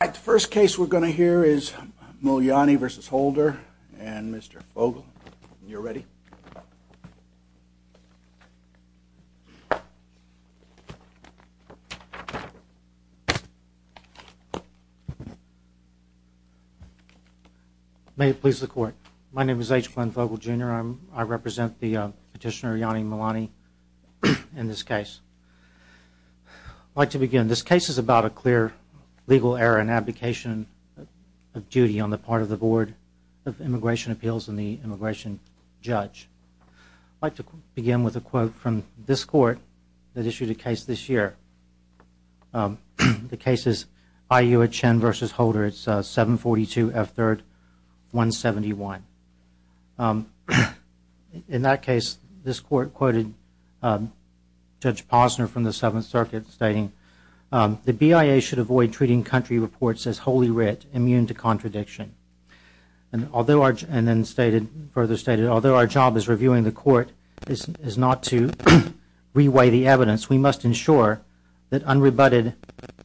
The first case we're going to hear is Mulyani v. Holder and Mr. Fogel. You're ready. May it please the court. My name is H. Glenn Fogel, Jr. I represent the petitioner Mulyani in this case. I'd like to begin. This case is about a clear legal error and abdication of duty on the part of the Board of Immigration Appeals and the immigration judge. I'd like to begin with a quote from this court that issued a case this year. The case is I. U. H. Chen v. Holder. It's 742 F. 3rd 171. In that case, this court quoted Judge Posner from the Seventh Circuit stating, The BIA should avoid treating country reports as wholly writ, immune to contradiction. And then further stated, Although our job as reviewing the court is not to reweigh the evidence, we must ensure that unrebutted,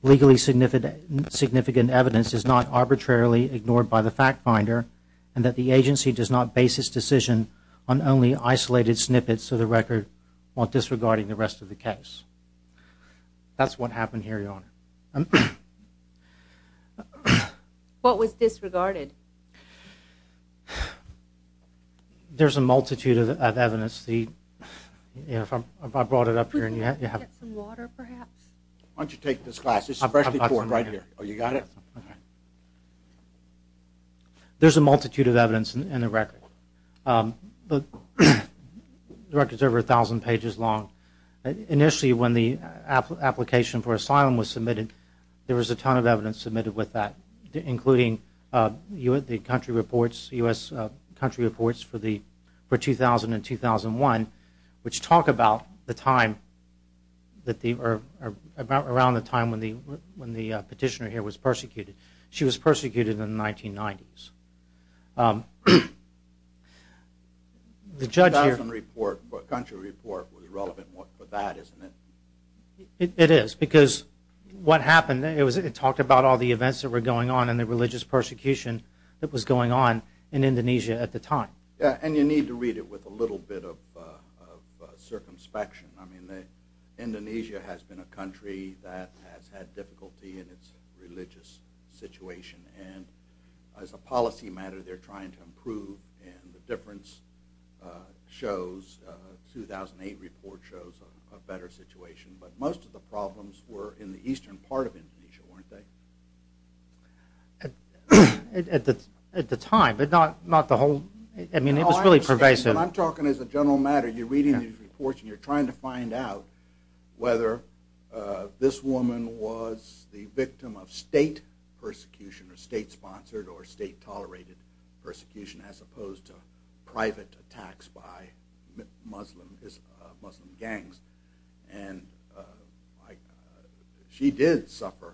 legally significant evidence is not arbitrarily ignored by the fact finder and that the agency does not base its decision on only isolated snippets of the record while disregarding the rest of the case. That's what happened here, Your Honor. What was disregarded? There's a multitude of evidence. There's a multitude of evidence in the record. The record is over a thousand pages long. Initially, when the application for asylum was submitted, there was a ton of evidence submitted with that, including the country reports, U.S. country reports for 2000 and 2001, which talk about the time, around the time when the petitioner here was persecuted. She was persecuted in the 1990s. The judge here... The 2000 report, country report, was relevant for that, isn't it? It is, because what happened, it talked about all the events that were going on and the religious persecution that was going on in Indonesia at the time. Yeah, and you need to read it with a little bit of circumspection. I mean, Indonesia has been a country that has had difficulty in its religious situation. And as a policy matter, they're trying to improve. And the difference shows, the 2008 report shows a better situation. But most of the problems were in the eastern part of Indonesia, weren't they? At the time, but not the whole... I mean, it was really pervasive. I'm talking as a general matter. You're reading these reports, and you're trying to find out whether this woman was the victim of state persecution or state-sponsored or state-tolerated persecution, as opposed to private attacks by Muslim gangs. And she did suffer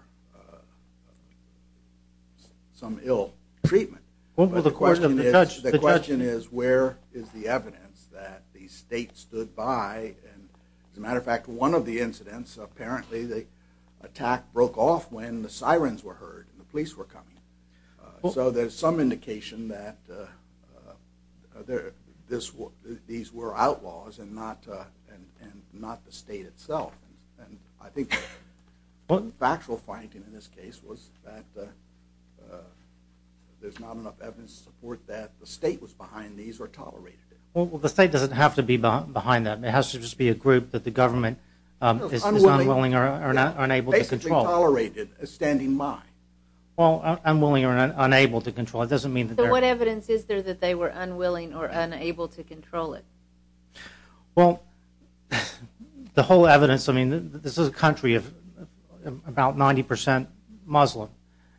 some ill treatment. The question is, where is the evidence that the state stood by? And as a matter of fact, one of the incidents, apparently the attack broke off when the sirens were heard and the police were coming. So there's some indication that these were outlaws and not the state itself. And I think the factual finding in this case was that there's not enough evidence to support that the state was behind these or tolerated it. Well, the state doesn't have to be behind that. It has to just be a group that the government is unwilling or unable to control. Basically tolerated, standing by. Well, unwilling or unable to control. It doesn't mean that they're... So what evidence is there that they were unwilling or unable to control it? Well, the whole evidence, I mean, this is a country of about 90% Muslim.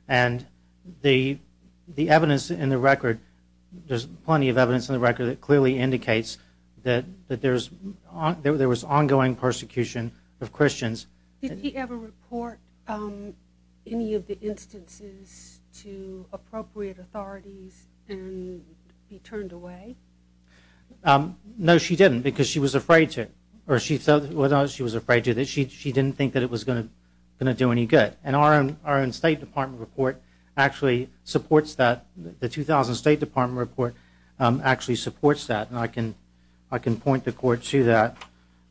And the evidence in the record, there's plenty of evidence in the record that clearly indicates that there was ongoing persecution of Christians. Did she ever report any of the instances to appropriate authorities and be turned away? No, she didn't, because she was afraid to. She was afraid that she didn't think that it was going to do any good. And our own State Department report actually supports that. The 2000 State Department report actually supports that. And I can point the court to that.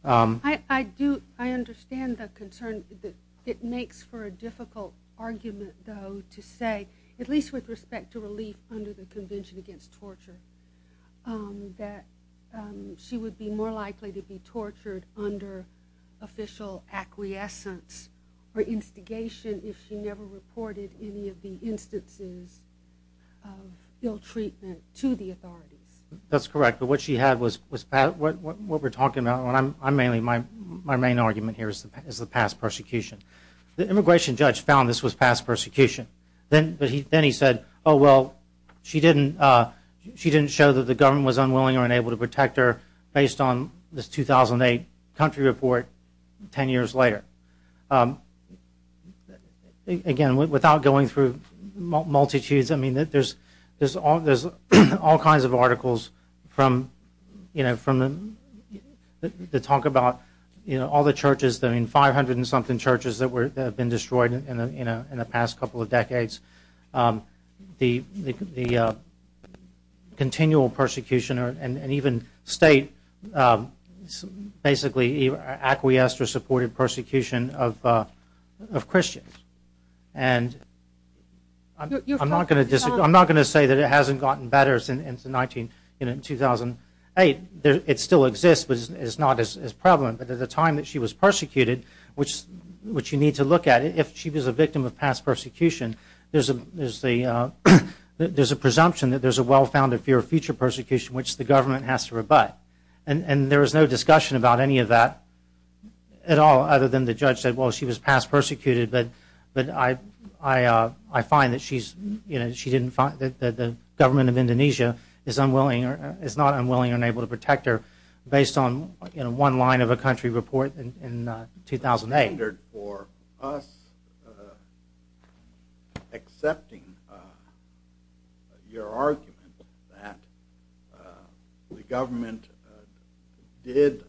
I understand the concern that it makes for a difficult argument, though, to say, at least with respect to relief under the Convention Against Torture, that she would be more likely to be tortured under official acquiescence or instigation if she never reported any of the instances of ill treatment to the authorities. That's correct, but what she had was... What we're talking about, my main argument here is the past persecution. The immigration judge found this was past persecution. Then he said, oh, well, she didn't show that the government was unwilling or unable to protect her based on this 2008 country report 10 years later. Again, without going through multitudes, there's all kinds of articles that talk about all the churches, 500-and-something churches that have been destroyed in the past couple of decades. The continual persecution and even State basically acquiesced or supported persecution of Christians. And I'm not going to say that it hasn't gotten better since 2008. It still exists, but it's not as prevalent. But at the time that she was persecuted, which you need to look at, if she was a victim of past persecution, there's a presumption that there's a well-founded fear of future persecution, which the government has to rebut. And there was no discussion about any of that at all other than the judge said, well, she was past persecuted, but I find that the government of Indonesia is not unwilling or unable to protect her based on one line of a country report in 2008. The standard for us accepting your argument that the government did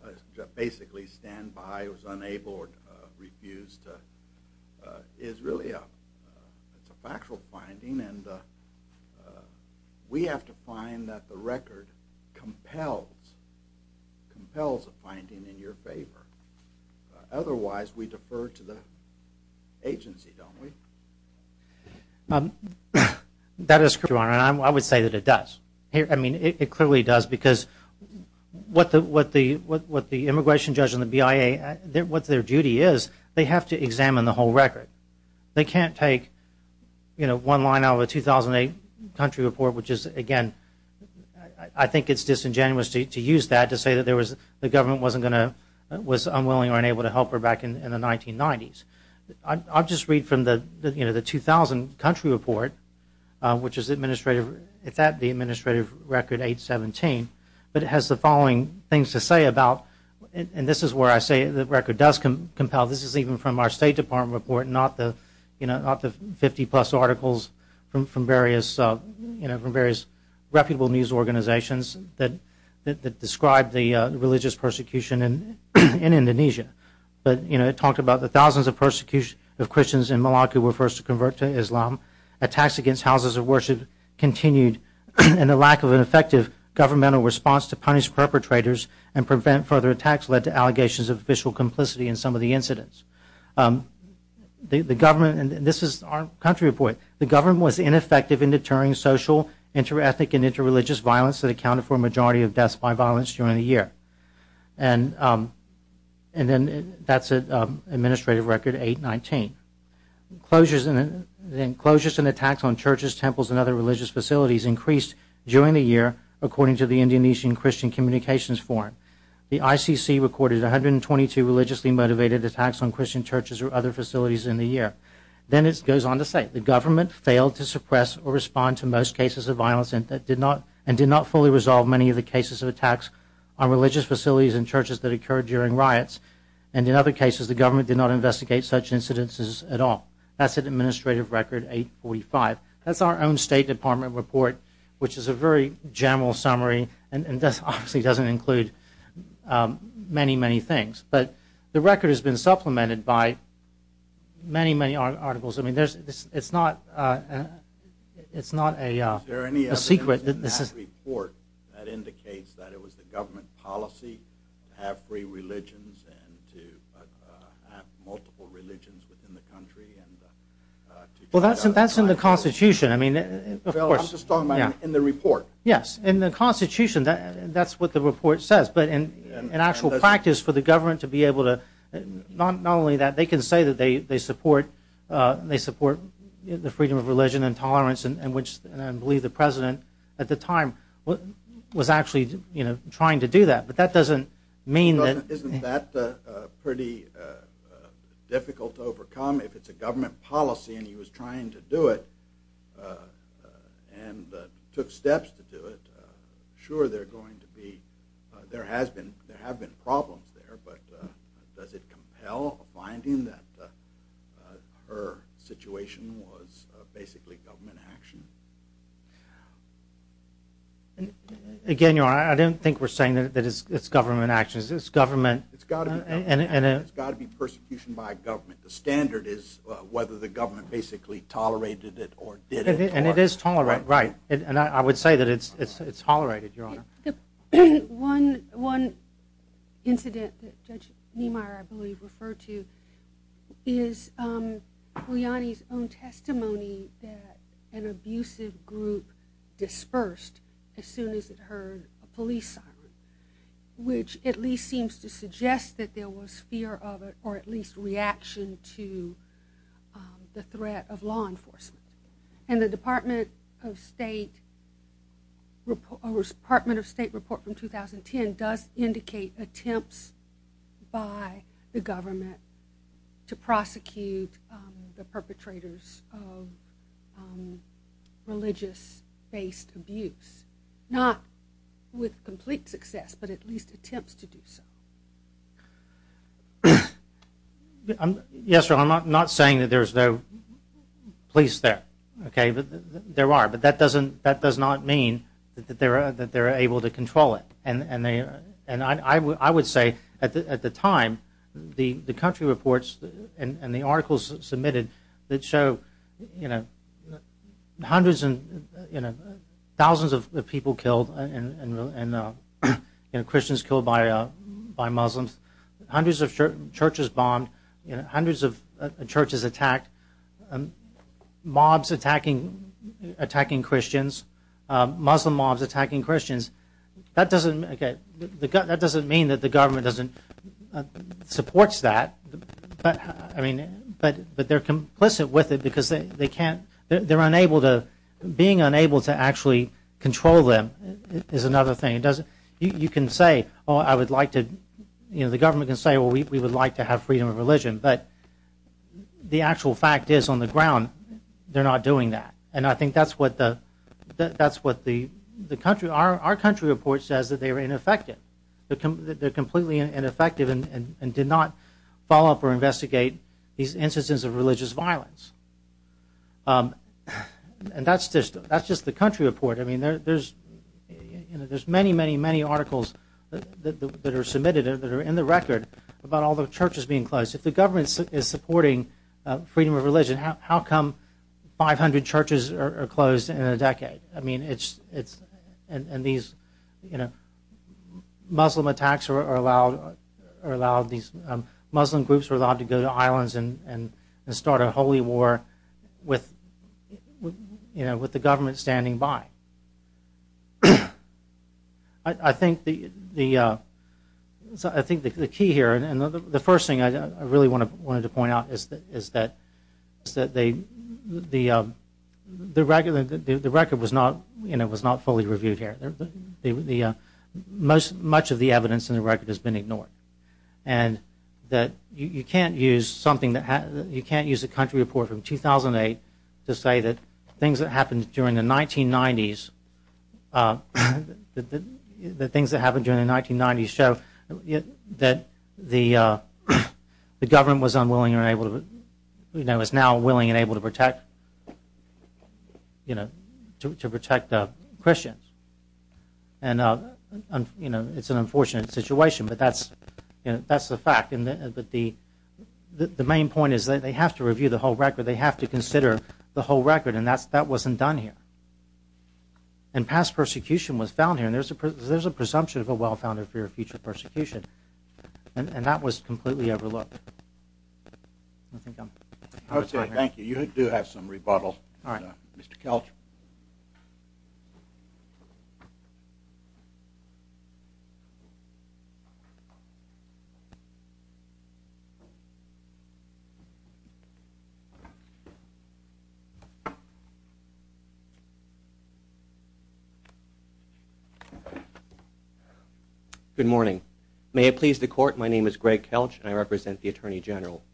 basically stand by or was unable or refused is really a factual finding, and we have to find that the record compels a finding in your favor. Otherwise, we defer to the agency, don't we? That is correct, Your Honor, and I would say that it does. I mean, it clearly does because what the immigration judge and the BIA, what their duty is, they have to examine the whole record. They can't take one line out of a 2008 country report, which is, again, I think it's disingenuous to use that to say that the government was unwilling or unable to help her back in the 1990s. I'll just read from the 2000 country report, which is administrative. It's at the administrative record 817, but it has the following things to say about, and this is where I say the record does compel. This is even from our State Department report, not the 50-plus articles from various reputable news organizations that describe the religious persecution in Indonesia, but it talked about the thousands of Christians in Malacca who were first to convert to Islam. Attacks against houses of worship continued, and the lack of an effective governmental response to punish perpetrators and prevent further attacks led to allegations of official complicity in some of the incidents. The government, and this is our country report, the government was ineffective in deterring social, interethnic, and interreligious violence that accounted for a majority of deaths by violence during the year. And then that's at administrative record 819. Closures and attacks on churches, temples, and other religious facilities increased during the year according to the Indonesian Christian Communications Forum. The ICC recorded 122 religiously motivated attacks on Christian churches or other facilities in the year. Then it goes on to say the government failed to suppress or respond to most cases of violence and did not fully resolve many of the cases of attacks on religious facilities and churches that occurred during riots. And in other cases, the government did not investigate such incidences at all. That's at administrative record 845. That's our own State Department report, which is a very general summary and obviously doesn't include many, many things. But the record has been supplemented by many, many articles. I mean, it's not a secret. Is there any evidence in that report that indicates that it was the government policy to have free religions and to have multiple religions within the country? Well, that's in the Constitution. I'm just talking about in the report. Yes, in the Constitution, that's what the report says. But in actual practice for the government to be able to not only that, they can say that they support the freedom of religion and tolerance and I believe the president at the time was actually trying to do that. But that doesn't mean that... Isn't that pretty difficult to overcome if it's a government policy and he was trying to do it and took steps to do it? Sure, there have been problems there, but does it compel a finding that her situation was basically government action? Again, Your Honor, I don't think we're saying that it's government action. It's government... It's got to be persecution by government. The standard is whether the government basically tolerated it or didn't. And it is tolerated, right. And I would say that it's tolerated, Your Honor. One incident that Judge Niemeyer, I believe, referred to is Guiliani's own testimony that an abusive group dispersed as soon as it heard a police siren, which at least seems to suggest that there was fear of it or at least reaction to the threat of law enforcement. And the Department of State report from 2010 does indicate attempts by the government to prosecute the perpetrators of religious-based abuse. Not with complete success, but at least attempts to do so. Yes, Your Honor, I'm not saying that there's no police there. There are, but that does not mean that they're able to control it. And I would say at the time, the country reports and the articles submitted that show hundreds and thousands of people killed and Christians killed by Muslims, hundreds of churches bombed, hundreds of churches attacked, mobs attacking Christians, Muslim mobs attacking Christians. That doesn't mean that the government supports that, but they're complicit with it because they can't, they're unable to, being unable to actually control them is another thing. It doesn't, you can say, oh, I would like to, you know, the government can say, well, we would like to have freedom of religion, but the actual fact is on the ground they're not doing that. And I think that's what the, that's what the country, our country report says that they were ineffective. They're completely ineffective and did not follow up or investigate these instances of religious violence. And that's just the country report. I mean, there's many, many, many articles that are submitted that are in the record about all the churches being closed. If the government is supporting freedom of religion, how come 500 churches are closed in a decade? I mean, it's, and these, you know, Muslim attacks are allowed, these Muslim groups are allowed to go to islands and start a holy war with, you know, with the government standing by. I think the, I think the key here, and the first thing I really wanted to point out is that they, the record was not, you know, was not fully reviewed here. The, most, much of the evidence in the record has been ignored. And that you can't use something that, you can't use a country report from 2008 to say that things that happened during the 1990s, that things that happened during the 1990s show that And, you know, it's an unfortunate situation, but that's the fact. But the main point is that they have to review the whole record, they have to consider the whole record, and that wasn't done here. And past persecution was found here, and there's a presumption of a well-founded fear of future persecution. And that was completely overlooked. Okay, thank you. You do have some rebuttal, Mr. Kelch. Good morning. May it please the court, my name is Greg Kelch, and I represent the Attorney General.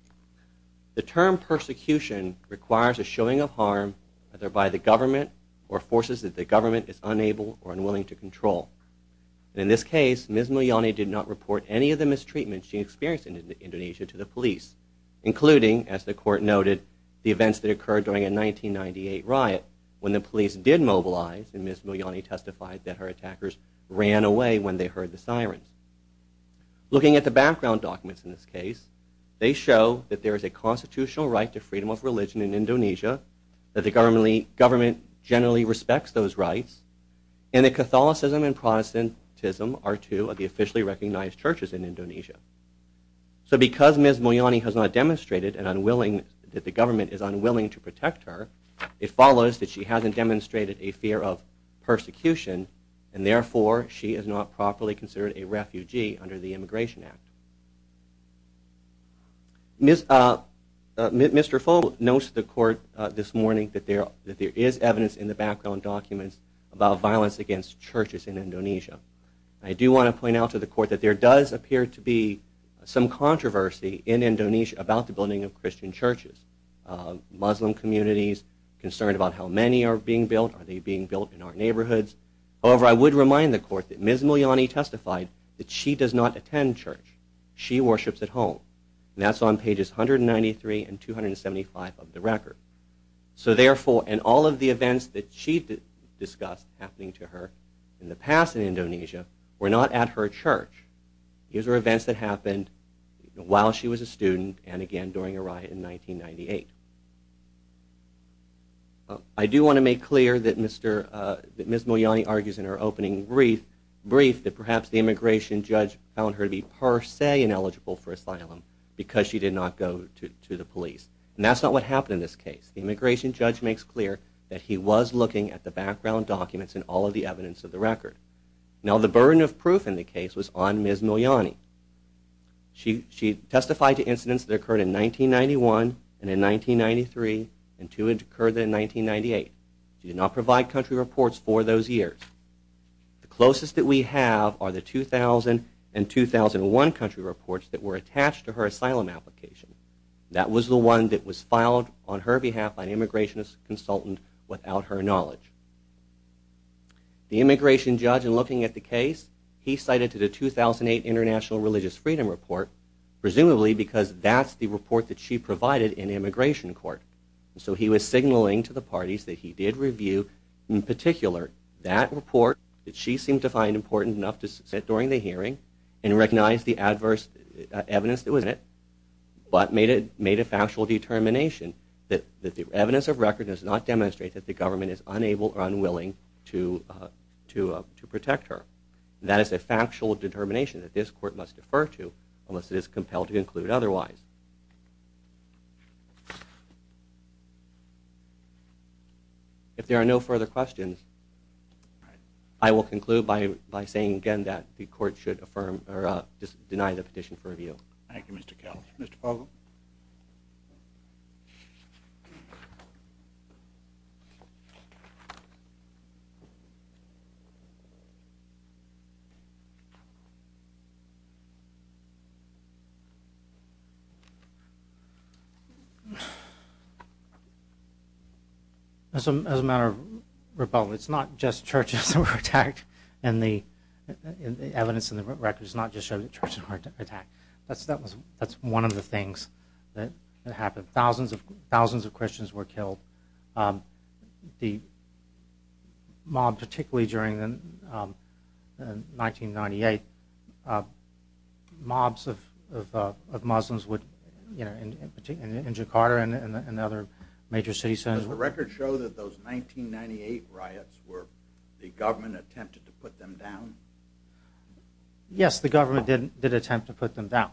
The term persecution requires a showing of harm either by the government or forces that the government is unable or unwilling to control. In this case, Ms. Mulyani did not report any of the mistreatment she experienced in Indonesia to the police, including, as the court noted, the events that occurred during a 1998 riot when the police did mobilize and Ms. Mulyani testified that her attackers ran away when they heard the sirens. Looking at the background documents in this case, they show that there is a constitutional right to freedom of religion in Indonesia, that the government generally respects those rights, and that Catholicism and Protestantism are two of the officially recognized churches in Indonesia. So because Ms. Mulyani has not demonstrated that the government is unwilling to protect her, it follows that she hasn't demonstrated a fear of persecution, and therefore she is not properly considered a refugee under the Immigration Act. Mr. Fogel notes to the court this morning that there is evidence in the background documents about violence against churches in Indonesia. I do want to point out to the court that there does appear to be some controversy in Indonesia about the building of Christian churches. Muslim communities are concerned about how many are being built, are they being built in our neighborhoods. However, I would remind the court that Ms. Mulyani testified that she does not attend church. She worships at home, and that's on pages 193 and 275 of the record. So therefore, in all of the events that she discussed happening to her in the past in Indonesia were not at her church. These were events that happened while she was a student and again during a riot in 1998. I do want to make clear that Ms. Mulyani argues in her opening brief that perhaps the immigration judge found her to be per se ineligible for asylum because she did not go to the police. And that's not what happened in this case. The immigration judge makes clear that he was looking at the background documents and all of the evidence of the record. Now the burden of proof in the case was on Ms. Mulyani. She testified to incidents that occurred in 1991 and in 1993 and two that occurred in 1998. She did not provide country reports for those years. The closest that we have are the 2000 and 2001 country reports that were attached to her asylum application. That was the one that was filed on her behalf by an immigration consultant without her knowledge. The immigration judge in looking at the case, he cited the 2008 International Religious Freedom Report presumably because that's the report that she provided in immigration court. So he was signaling to the parties that he did review in particular that report that she seemed to find important enough to sit during the hearing and recognize the adverse evidence that was in it but made a factual determination that the evidence of record does not demonstrate that the government is unable or unwilling to protect her. That is a factual determination that this court must defer to unless it is compelled to include otherwise. If there are no further questions, I will conclude by saying again that the court should affirm or deny the petition for review. Thank you, Mr. Kelly. Mr. Fogle? Thank you. As a matter of rebuttal, it's not just churches that were attacked and the evidence in the record does not just show that churches were attacked. That's one of the things that happened. Thousands of Christians were killed. The mob, particularly during 1998, mobs of Muslims in Jakarta and other major city centers. Does the record show that those 1998 riots were the government attempted to put them down? Yes, the government did attempt to put them down.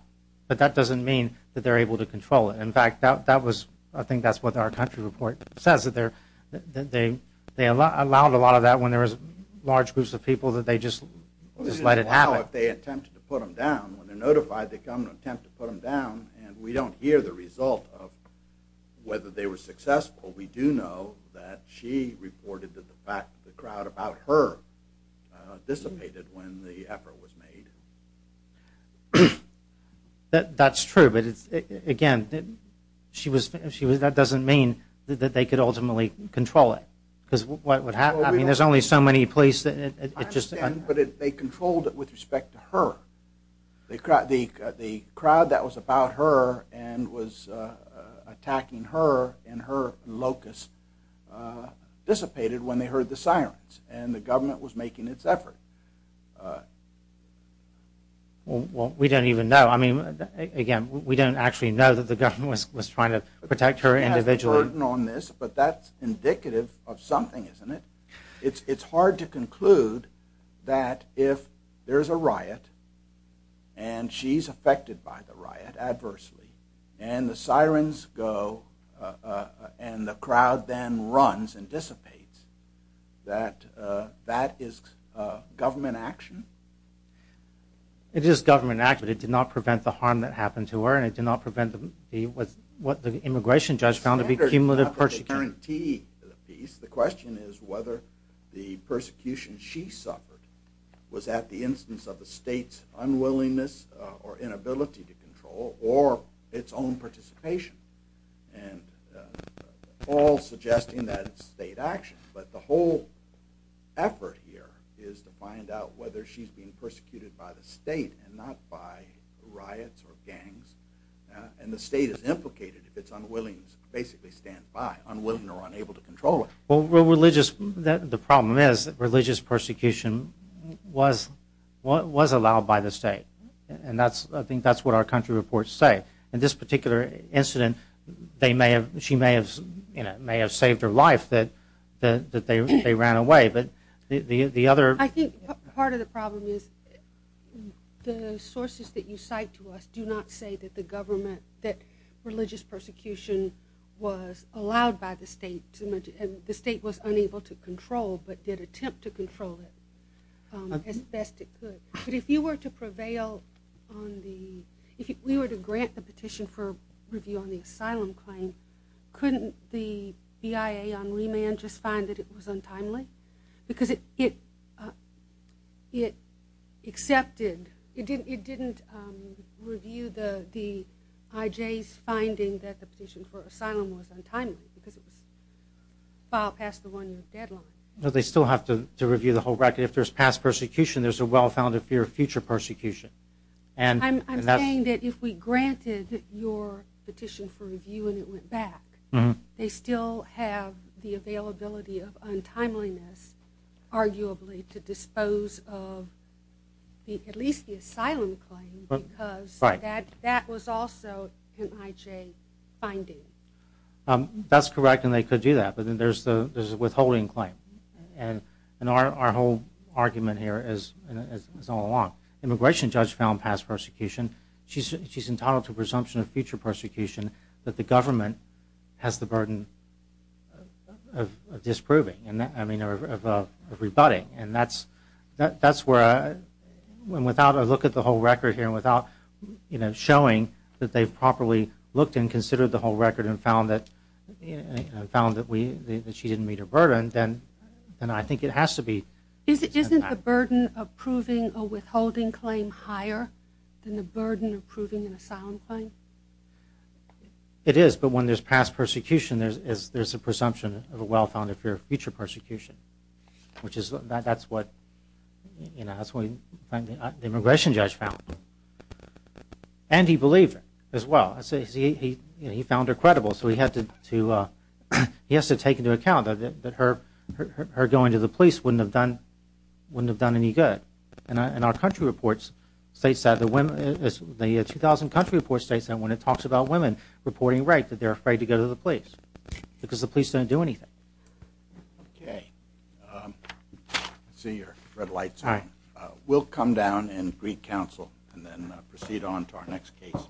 But that doesn't mean that they're able to control it. In fact, I think that's what our country report says, that they allowed a lot of that when there was large groups of people that they just let it happen. Well, this isn't about how they attempted to put them down. When they're notified, they come and attempt to put them down and we don't hear the result of whether they were successful. We do know that she reported that the crowd about her dissipated when the effort was made. That's true, but again, that doesn't mean that they could ultimately control it. Because what would happen, I mean, there's only so many police. I understand, but they controlled it with respect to her. The crowd that was about her and was attacking her and her locusts dissipated when they heard the sirens and the government was making its effort. Well, we don't even know. I mean, again, we don't actually know that the government was trying to protect her individually. But that's indicative of something, isn't it? It's hard to conclude that if there's a riot and she's affected by the riot adversely and the sirens go and the crowd then runs and dissipates, that that is government action? It is government action, but it did not prevent the harm that happened to her and it did not prevent what the immigration judge found to be cumulative persecution. The question is whether the persecution she suffered was at the instance of the state's unwillingness or inability to control or its own participation, all suggesting that it's state action. But the whole effort here is to find out whether she's being persecuted by the state and not by riots or gangs. And the state is implicated if it's unwilling to basically stand by, unwilling or unable to control it. The problem is that religious persecution was allowed by the state. And I think that's what our country reports say. In this particular incident, she may have saved her life that they ran away. I think part of the problem is the sources that you cite to us do not say that the government, that religious persecution was allowed by the state and the state was unable to control but did attempt to control it as best it could. But if you were to prevail on the, if we were to grant the petition for review on the asylum claim, couldn't the BIA on remand just find that it was untimely? Because it accepted, it didn't review the IJ's finding that the petition for asylum was untimely because it was filed past the one-year deadline. They still have to review the whole record. If there's past persecution, there's a well-founded fear of future persecution. I'm saying that if we granted your petition for review and it went back, they still have the availability of untimeliness arguably to dispose of at least the asylum claim because that was also an IJ finding. That's correct, and they could do that. But then there's the withholding claim. And our whole argument here is all along. Immigration judge found past persecution. She's entitled to a presumption of future persecution that the government has the burden of disproving, I mean of rebutting, and that's where without a look at the whole record here and without showing that they've properly looked and considered the whole record and found that she didn't meet her burden, then I think it has to be. Isn't the burden of proving a withholding claim higher than the burden of proving an asylum claim? It is, but when there's past persecution, there's a presumption of a well-founded fear of future persecution, which is what the immigration judge found. And he believed her as well. He found her credible, so he has to take into account that her going to the police wouldn't have done any good. And our country reports states that when it talks about women reporting rape, that they're afraid to go to the police because the police don't do anything. Okay. I see your red lights on. We'll come down and greet counsel and then proceed on to our next case.